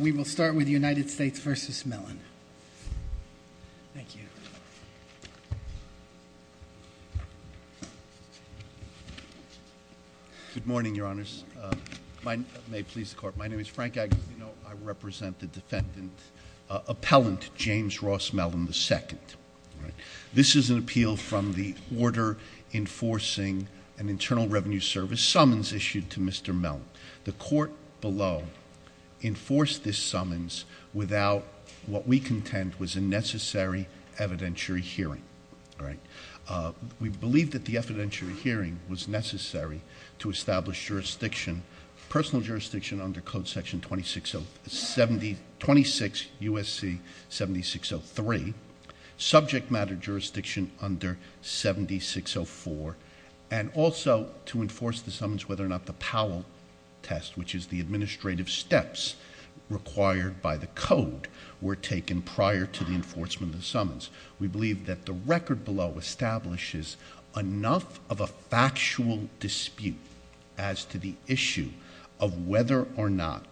We will start with the United States v. Mellon. Thank you. Good morning, Your Honors. My name is Frank Aguilino. I represent the defendant, Appellant James Ross Mellon II. This is an appeal from the Order Enforcing an Internal Revenue Service Summons issued to Mr. Mellon. The court below enforced this summons without what we contend was a necessary evidentiary hearing. We believe that the evidentiary hearing was necessary to establish jurisdiction, personal jurisdiction under Code Section 26 U.S.C. 7603, subject matter jurisdiction under 7604, and also to enforce the summons whether or not the Powell test, which is the administrative steps required by the code, were taken prior to the enforcement of the summons. We believe that the record below establishes enough of a factual dispute as to the issue of whether or not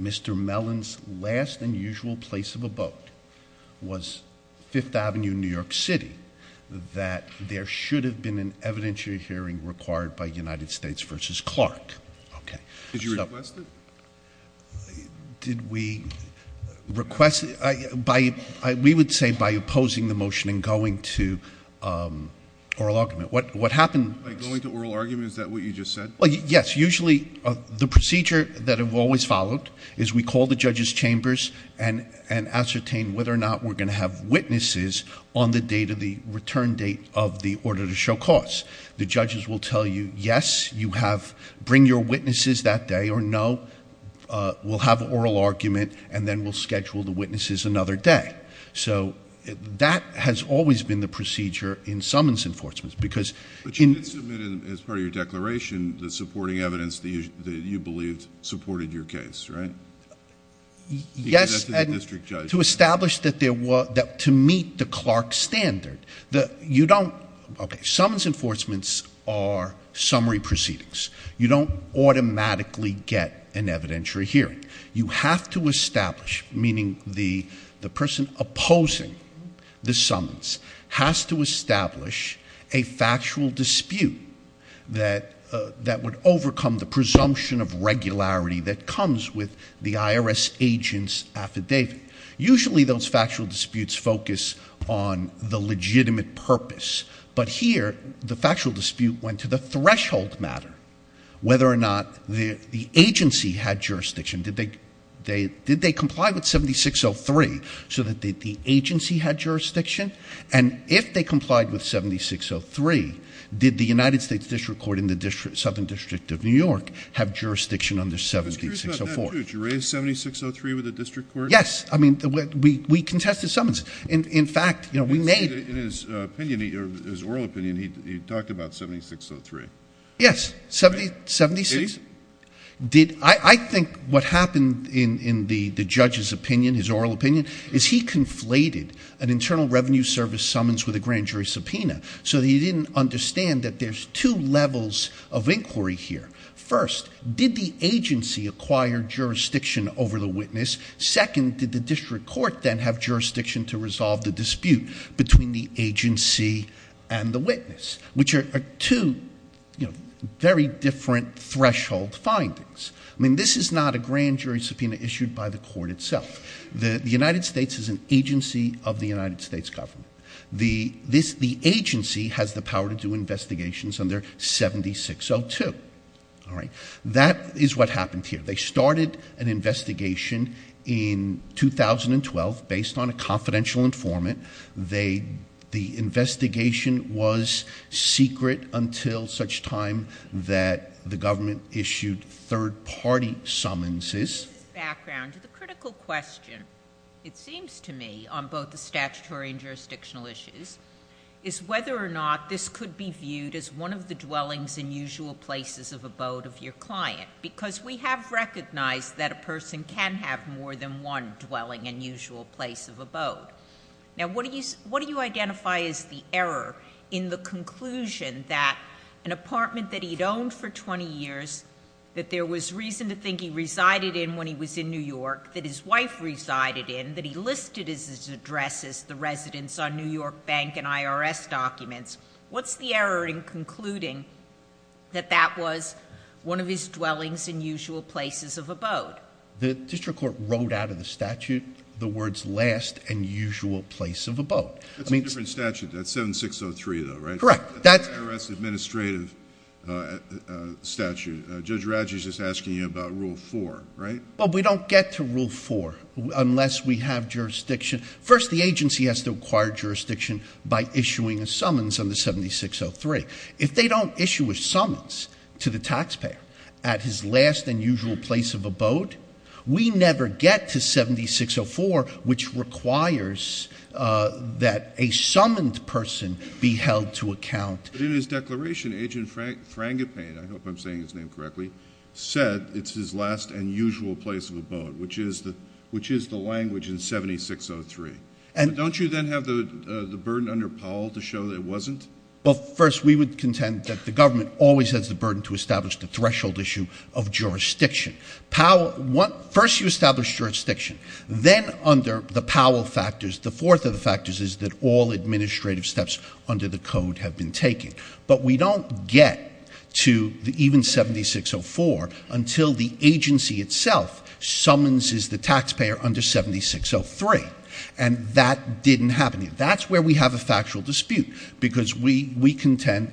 Mr. Mellon's last and usual place of abode was Fifth Avenue, New York City, that there should have been an evidentiary hearing required by United States v. Clark. Did you request it? Did we request it? We would say by opposing the motion and going to oral argument. By going to oral argument, is that what you just said? Yes. That's usually the procedure that I've always followed, is we call the judges' chambers and ascertain whether or not we're going to have witnesses on the date of the return date of the order to show cause. The judges will tell you, yes, you have to bring your witnesses that day, or no, we'll have an oral argument, and then we'll schedule the witnesses another day. So that has always been the procedure in summons enforcements. But you did submit, as part of your declaration, the supporting evidence that you believed supported your case, right? Yes, and to establish that there was... to meet the Clark standard. You don't... okay, summons enforcements are summary proceedings. You don't automatically get an evidentiary hearing. has to establish a factual dispute that would overcome the presumption of regularity that comes with the IRS agent's affidavit. Usually those factual disputes focus on the legitimate purpose, but here the factual dispute went to the threshold matter, whether or not the agency had jurisdiction. Did they comply with 7603 so that the agency had jurisdiction? And if they complied with 7603, did the United States District Court in the Southern District of New York have jurisdiction under 7604? I was curious about that, too. Did you raise 7603 with the District Court? Yes. I mean, we contested summons. In fact, we made... In his opinion, his oral opinion, he talked about 7603. Yes. Right? I think what happened in the judge's opinion, his oral opinion, is he conflated an internal revenue service summons with a grand jury subpoena so that he didn't understand that there's two levels of inquiry here. First, did the agency acquire jurisdiction over the witness? Second, did the District Court then have jurisdiction to resolve the dispute between the agency and the witness, which are two very different threshold findings. I mean, this is not a grand jury subpoena issued by the court itself. The United States is an agency of the United States government. The agency has the power to do investigations under 7602. That is what happened here. They started an investigation in 2012 based on a confidential informant. The investigation was secret until such time that the government issued third-party summonses. In this background, the critical question, it seems to me, on both the statutory and jurisdictional issues, is whether or not this could be viewed as one of the dwellings and usual places of abode of your client. Because we have recognized that a person can have more than one dwelling and usual place of abode. Now, what do you identify as the error in the conclusion that an apartment that he'd owned for 20 years, that there was reason to think he resided in when he was in New York, that his wife resided in, that he listed his address as the residence on New York Bank and IRS documents, what's the error in concluding that that was one of his dwellings and usual places of abode? The district court wrote out of the statute the words, last and usual place of abode. That's a different statute. That's 7603, though, right? Correct. That's an IRS administrative statute. Judge Radji is just asking you about Rule 4, right? Well, we don't get to Rule 4 unless we have jurisdiction. First, the agency has to acquire jurisdiction by issuing a summons under 7603. If they don't issue a summons to the taxpayer at his last and usual place of abode, we never get to 7604, which requires that a summoned person be held to account. But in his declaration, Agent Frangipane, I hope I'm saying his name correctly, said it's his last and usual place of abode, which is the language in 7603. Don't you then have the burden under Powell to show that it wasn't? Well, first, we would contend that the government always has the burden to establish the threshold issue of jurisdiction. First, you establish jurisdiction. Then, under the Powell factors, the fourth of the factors is that all administrative steps under the code have been taken. But we don't get to even 7604 until the agency itself summonses the taxpayer under 7603. And that didn't happen. That's where we have a factual dispute, because we contend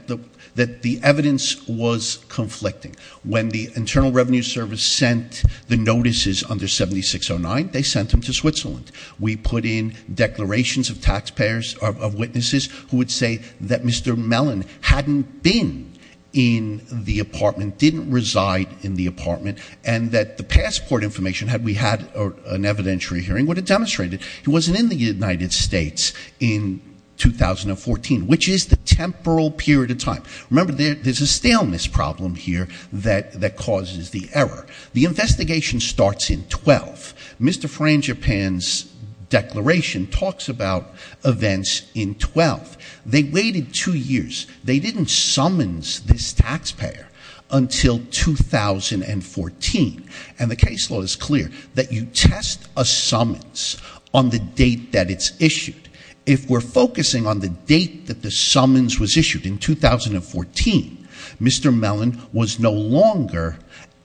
that the evidence was conflicting. When the Internal Revenue Service sent the notices under 7609, they sent them to Switzerland. We put in declarations of taxpayers, of witnesses, who would say that Mr. Mellon hadn't been in the apartment, didn't reside in the apartment, and that the passport information, had we had an evidentiary hearing, would have demonstrated he wasn't in the United States in 2014, which is the temporal period of time. Remember, there's a staleness problem here that causes the error. The investigation starts in 12. Mr. Frangipane's declaration talks about events in 12. They waited two years. They didn't summons this taxpayer until 2014. And the case law is clear that you test a summons on the date that it's issued. If we're focusing on the date that the summons was issued in 2014, Mr. Mellon was no longer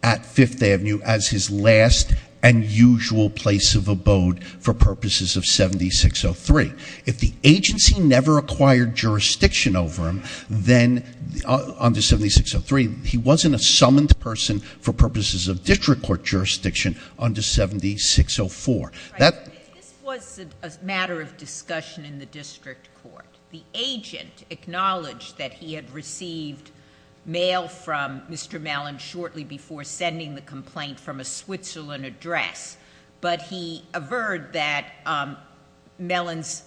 at Fifth Avenue as his last and usual place of abode for purposes of 7603. If the agency never acquired jurisdiction over him under 7603, he wasn't a summoned person for purposes of district court jurisdiction under 7604. This was a matter of discussion in the district court. The agent acknowledged that he had received mail from Mr. Mellon shortly before sending the complaint from a Switzerland address. But he averred that Mellon's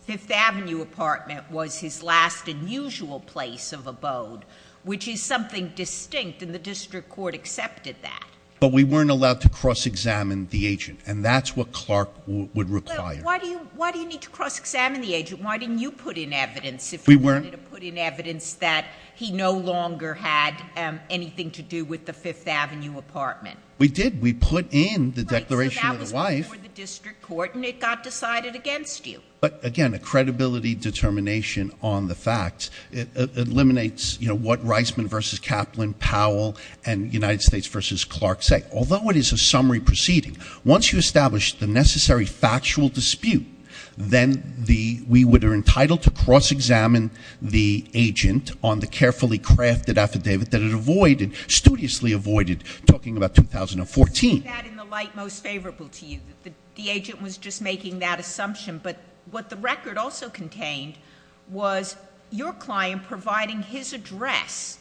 Fifth Avenue apartment was his last and usual place of abode, which is something distinct, and the district court accepted that. But we weren't allowed to cross-examine the agent, and that's what Clark would require. Why do you need to cross-examine the agent? Why didn't you put in evidence if you wanted to put in evidence that he no longer had anything to do with the Fifth Avenue apartment? We did. We put in the declaration of the wife. Right, so that was before the district court, and it got decided against you. But again, a credibility determination on the facts eliminates what Reisman versus Kaplan, Powell, and United States versus Clark say. Although it is a summary proceeding, once you establish the necessary factual dispute, then we would are entitled to cross-examine the agent on the carefully crafted affidavit that it studiously avoided talking about 2014. Is that in the light most favorable to you, that the agent was just making that assumption, but what the record also contained was your client providing his address,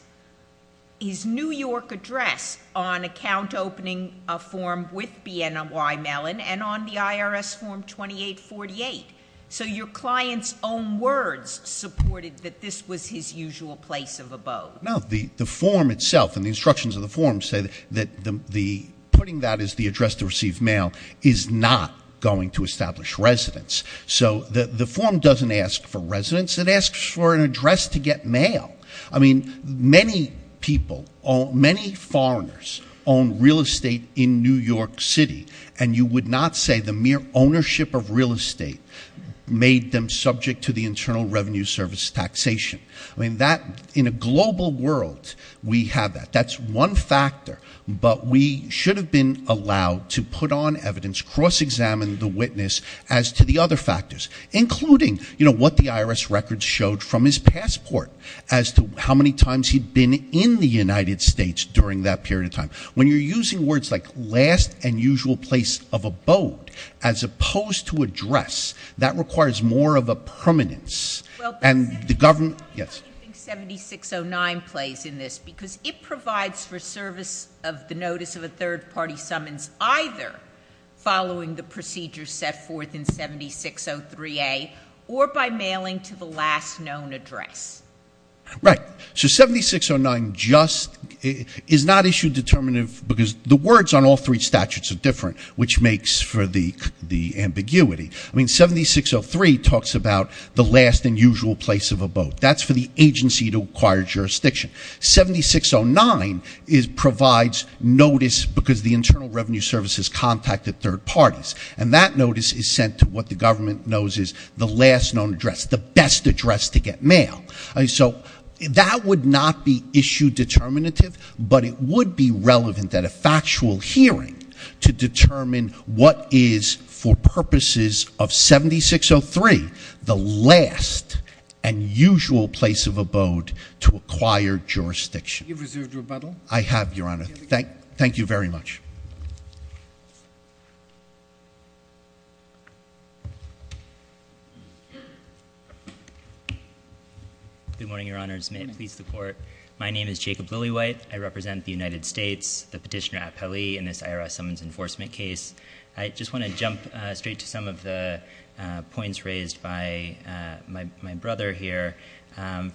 his New York address on account opening a form with BNY Mellon and on the IRS Form 2848. So your client's own words supported that this was his usual place of abode. No, the form itself and the instructions of the form say that putting that as the address to receive mail is not going to establish residence. So the form doesn't ask for residence. It asks for an address to get mail. I mean, many people, many foreigners own real estate in New York City, and you would not say the mere ownership of real estate made them subject to the Internal Revenue Service taxation. I mean, in a global world, we have that. That's one factor, but we should have been allowed to put on evidence, cross-examine the witness as to the other factors, including, you know, what the IRS records showed from his passport as to how many times he'd been in the United States during that period of time. When you're using words like last and usual place of abode as opposed to address, that requires more of a permanence. How do you think 7609 plays in this? Because it provides for service of the notice of a third-party summons either following the procedure set forth in 7603A or by mailing to the last known address. Right. So 7609 just is not issue determinative because the words on all three statutes are different, which makes for the ambiguity. I mean, 7603 talks about the last and usual place of abode. That's for the agency to acquire jurisdiction. 7609 provides notice because the Internal Revenue Service has contacted third parties, and that notice is sent to what the government knows is the last known address, the best address to get mail. So that would not be issue determinative, but it would be relevant at a factual hearing to determine what is, for purposes of 7603, the last and usual place of abode to acquire jurisdiction. Do you have reserved rebuttal? I have, Your Honor. Thank you very much. Good morning, Your Honor. May it please the Court. My name is Jacob Lillywhite. I represent the United States, the petitioner at Pele in this IRS summons enforcement case. I just want to jump straight to some of the points raised by my brother here.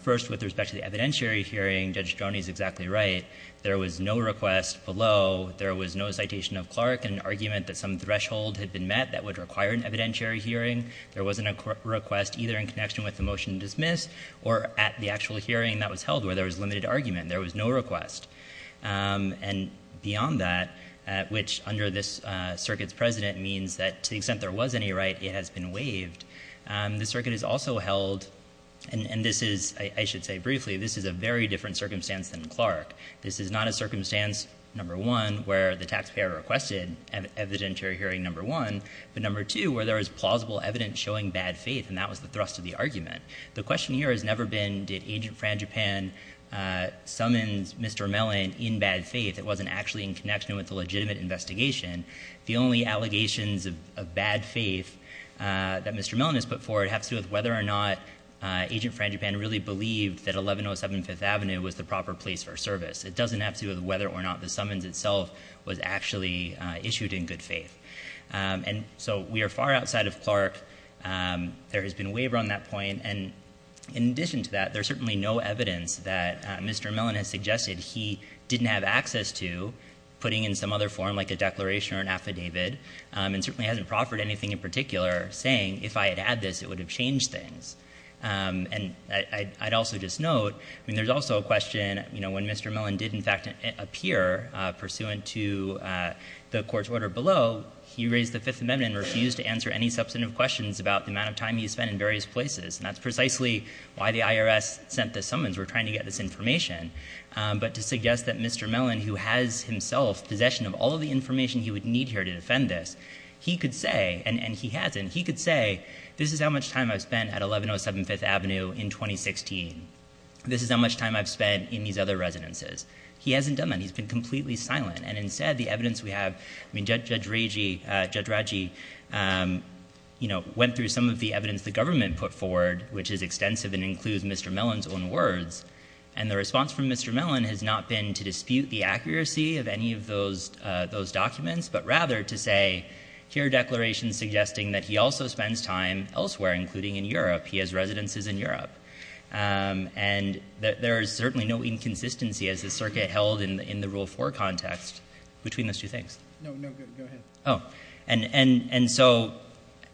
First, with respect to the evidentiary hearing, Judge Stroni is exactly right. There was no request below. There was no citation of Clark and argument that some threshold had been met that would require an evidentiary hearing. There wasn't a request either in connection with the motion to dismiss or at the actual hearing that was held where there was limited argument. There was no request. And beyond that, which under this circuit's precedent means that to the extent there was any right, it has been waived, the circuit has also held, and this is, I should say briefly, this is a very different circumstance than Clark. This is not a circumstance, number one, where the taxpayer requested evidentiary hearing, number one, but number two, where there is plausible evidence showing bad faith, and that was the thrust of the argument. The question here has never been did Agent Frangipane summons Mr. Mellon in bad faith. It wasn't actually in connection with the legitimate investigation. The only allegations of bad faith that Mr. Mellon has put forward have to do with whether or not Agent Frangipane really believed that 1107 Fifth Avenue was the proper place for service. It doesn't have to do with whether or not the summons itself was actually issued in good faith. And so we are far outside of Clark. There has been a waiver on that point. And in addition to that, there's certainly no evidence that Mr. Mellon has suggested he didn't have access to, putting in some other form like a declaration or an affidavit, and certainly hasn't proffered anything in particular saying if I had had this, it would have changed things. And I'd also just note, I mean, there's also a question, you know, when Mr. Mellon did in fact appear, pursuant to the court's order below, he raised the Fifth Amendment and refused to answer any substantive questions about the amount of time he spent in various places. And that's precisely why the IRS sent the summons. We're trying to get this information. But to suggest that Mr. Mellon, who has himself possession of all of the information he would need here to defend this, he could say, and he hasn't, he could say, this is how much time I've spent at 1107 Fifth Avenue in 2016. This is how much time I've spent in these other residences. He hasn't done that. He's been completely silent. And instead, the evidence we have, I mean, Judge Raji, you know, went through some of the evidence the government put forward, which is extensive and includes Mr. Mellon's own words. And the response from Mr. Mellon has not been to dispute the accuracy of any of those documents, but rather to say, here are declarations suggesting that he also spends time elsewhere, including in Europe. He has residences in Europe. And there is certainly no inconsistency, as the circuit held in the Rule 4 context, between those two things. No, no, go ahead. Oh. And so,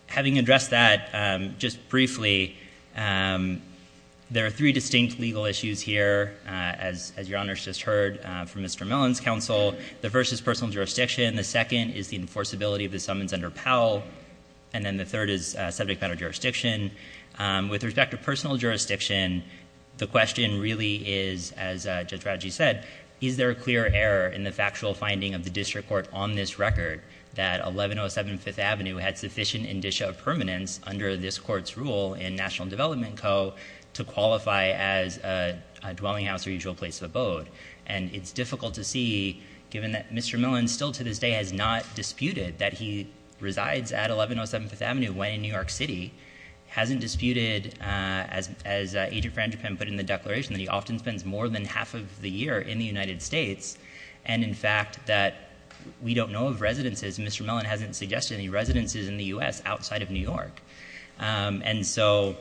having addressed that just briefly, there are three distinct legal issues here, as Your Honors just heard from Mr. Mellon's counsel. The first is personal jurisdiction. The second is the enforceability of the summons under Powell. And then the third is subject matter jurisdiction. With respect to personal jurisdiction, the question really is, as Judge Raji said, is there a clear error in the factual finding of the district court on this record that 1107 Fifth Avenue had sufficient indicia of permanence under this court's rule in National Development Co. to qualify as a dwelling house or usual place of abode? And it's difficult to see, given that Mr. Mellon still to this day has not disputed that he resides at 1107 Fifth Avenue when in New York City. Hasn't disputed, as Agent Frangipane put in the declaration, that he often spends more than half of the year in the United States. And in fact, that we don't know of residences. Mr. Mellon hasn't suggested any residences in the U.S. outside of New York. And so,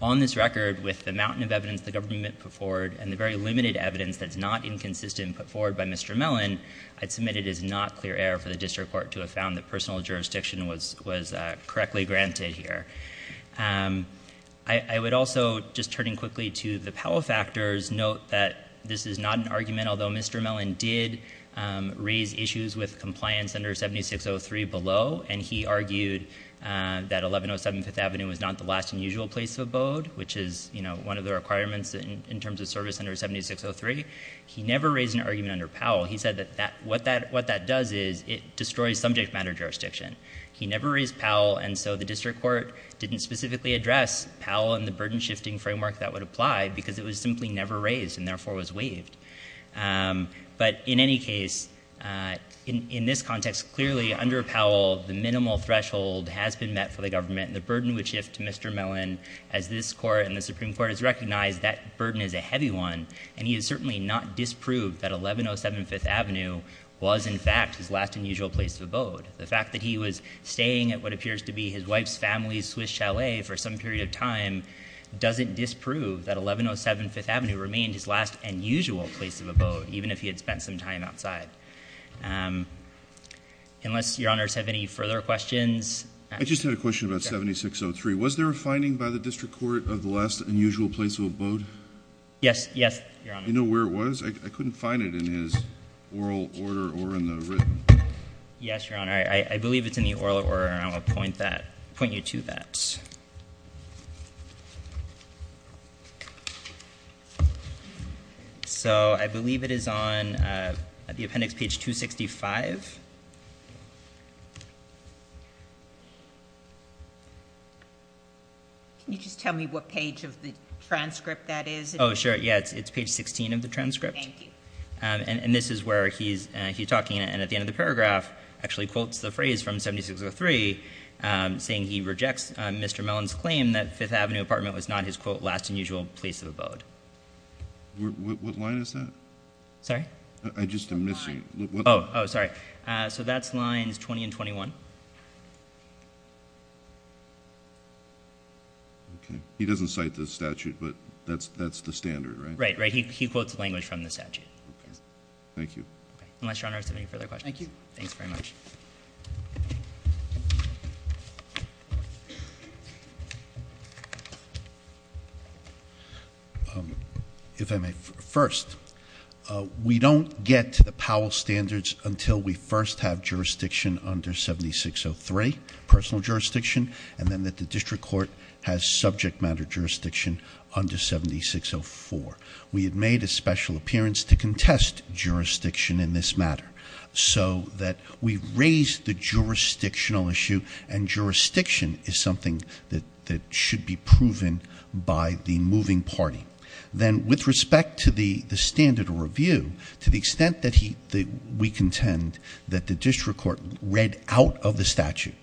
on this record, with the mountain of evidence the government put forward, and the very limited evidence that's not inconsistent put forward by Mr. Mellon, I'd submit it is not clear error for the district court to have found that personal jurisdiction was correctly granted here. I would also, just turning quickly to the Powell factors, note that this is not an argument, although Mr. Mellon did raise issues with compliance under 7603 below, and he argued that 1107 Fifth Avenue was not the last unusual place of abode, which is, you know, one of the requirements in terms of service under 7603. He never raised an argument under Powell. He said that what that does is it destroys subject matter jurisdiction. He never raised Powell, and so the district court didn't specifically address Powell and the burden-shifting framework that would apply because it was simply never raised and therefore was waived. But in any case, in this context, clearly, under Powell, the minimal threshold has been met for the government. The burden would shift to Mr. Mellon as this court and the Supreme Court has recognized that burden is a heavy one, and he has certainly not disproved that 1107 Fifth Avenue was, in fact, his last unusual place of abode. The fact that he was staying at what appears to be his wife's family's Swiss chalet for some period of time doesn't disprove that 1107 Fifth Avenue remained his last unusual place of abode, even if he had spent some time outside. Unless Your Honors have any further questions. I just had a question about 7603. Was there a finding by the district court of the last unusual place of abode? Yes, Your Honor. Do you know where it was? I couldn't find it in his oral order or in the written. Yes, Your Honor. I believe it's in the oral order, and I'm going to point you to that. So I believe it is on the appendix, page 265. Can you just tell me what page of the transcript that is? Oh, sure. Yeah, it's page 16 of the transcript. Thank you. And this is where he's talking, and at the end of the paragraph actually quotes the phrase from 7603, saying he rejects Mr. Mellon's claim that Fifth Avenue apartment was not his, quote, last unusual place of abode. What line is that? Sorry? I just am missing. Oh, sorry. So that's lines 20 and 21. Okay. He doesn't cite the statute, but that's the standard, right? Right, right. He quotes language from the statute. Okay. Thank you. Unless Your Honor has any further questions. Thank you. Thanks very much. If I may. First, we don't get to the Powell standards until we first have jurisdiction under 7603, personal jurisdiction, and then that the district court has subject matter jurisdiction under 7604. We had made a special appearance to contest jurisdiction in this matter, so that we raised the jurisdictional issue, and jurisdiction is something that should be proven by the moving party. Then, with respect to the standard review, to the extent that we contend that the district court read out of the statute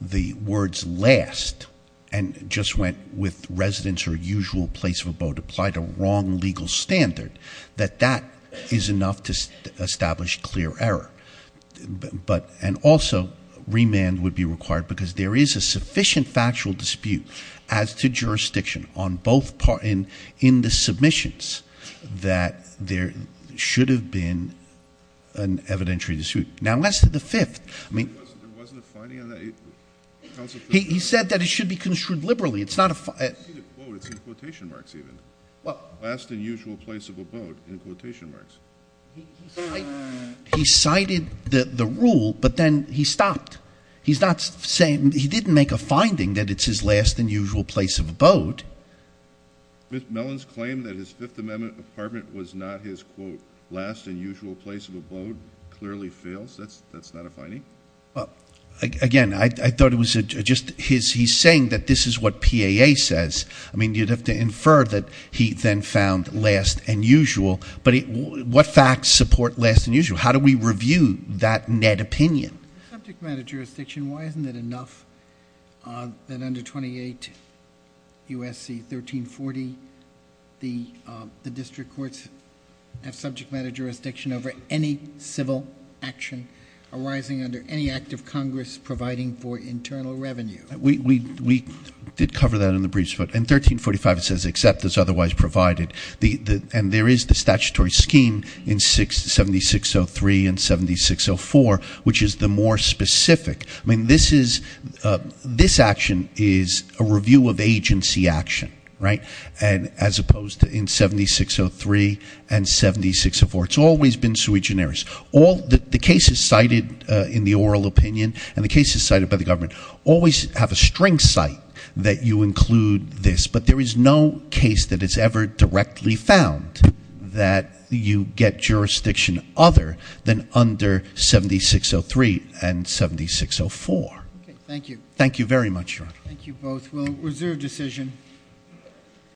the words last and just went with residence or usual place of abode, applied a wrong legal standard, that that is enough to establish clear error. And also, remand would be required because there is a sufficient factual dispute as to jurisdiction on both parts, in the submissions, that there should have been an evidentiary dispute. Now, as to the fifth, I mean. There wasn't a finding on that? He said that it should be construed liberally. It's in quotation marks, even. Last and usual place of abode, in quotation marks. He cited the rule, but then he stopped. He didn't make a finding that it's his last and usual place of abode. Mr. Mellon's claim that his Fifth Amendment apartment was not his, quote, last and usual place of abode clearly fails. That's not a finding? Again, I thought it was just he's saying that this is what PAA says. I mean, you'd have to infer that he then found last and usual, but what facts support last and usual? How do we review that net opinion? Subject matter jurisdiction, why isn't it enough that under 28 U.S.C. 1340, the district courts have subject matter jurisdiction over any civil action arising under any act of Congress providing for internal revenue? We did cover that in the briefs, but in 1345 it says except as otherwise provided. And there is the statutory scheme in 7603 and 7604, which is the more specific. I mean, this action is a review of agency action, right? And as opposed to in 7603 and 7604. It's always been sui generis. The cases cited in the oral opinion and the cases cited by the government always have a string site that you include this. But there is no case that it's ever directly found that you get jurisdiction other than under 7603 and 7604. Thank you. Thank you very much, Your Honor. Thank you both. We'll reserve decision.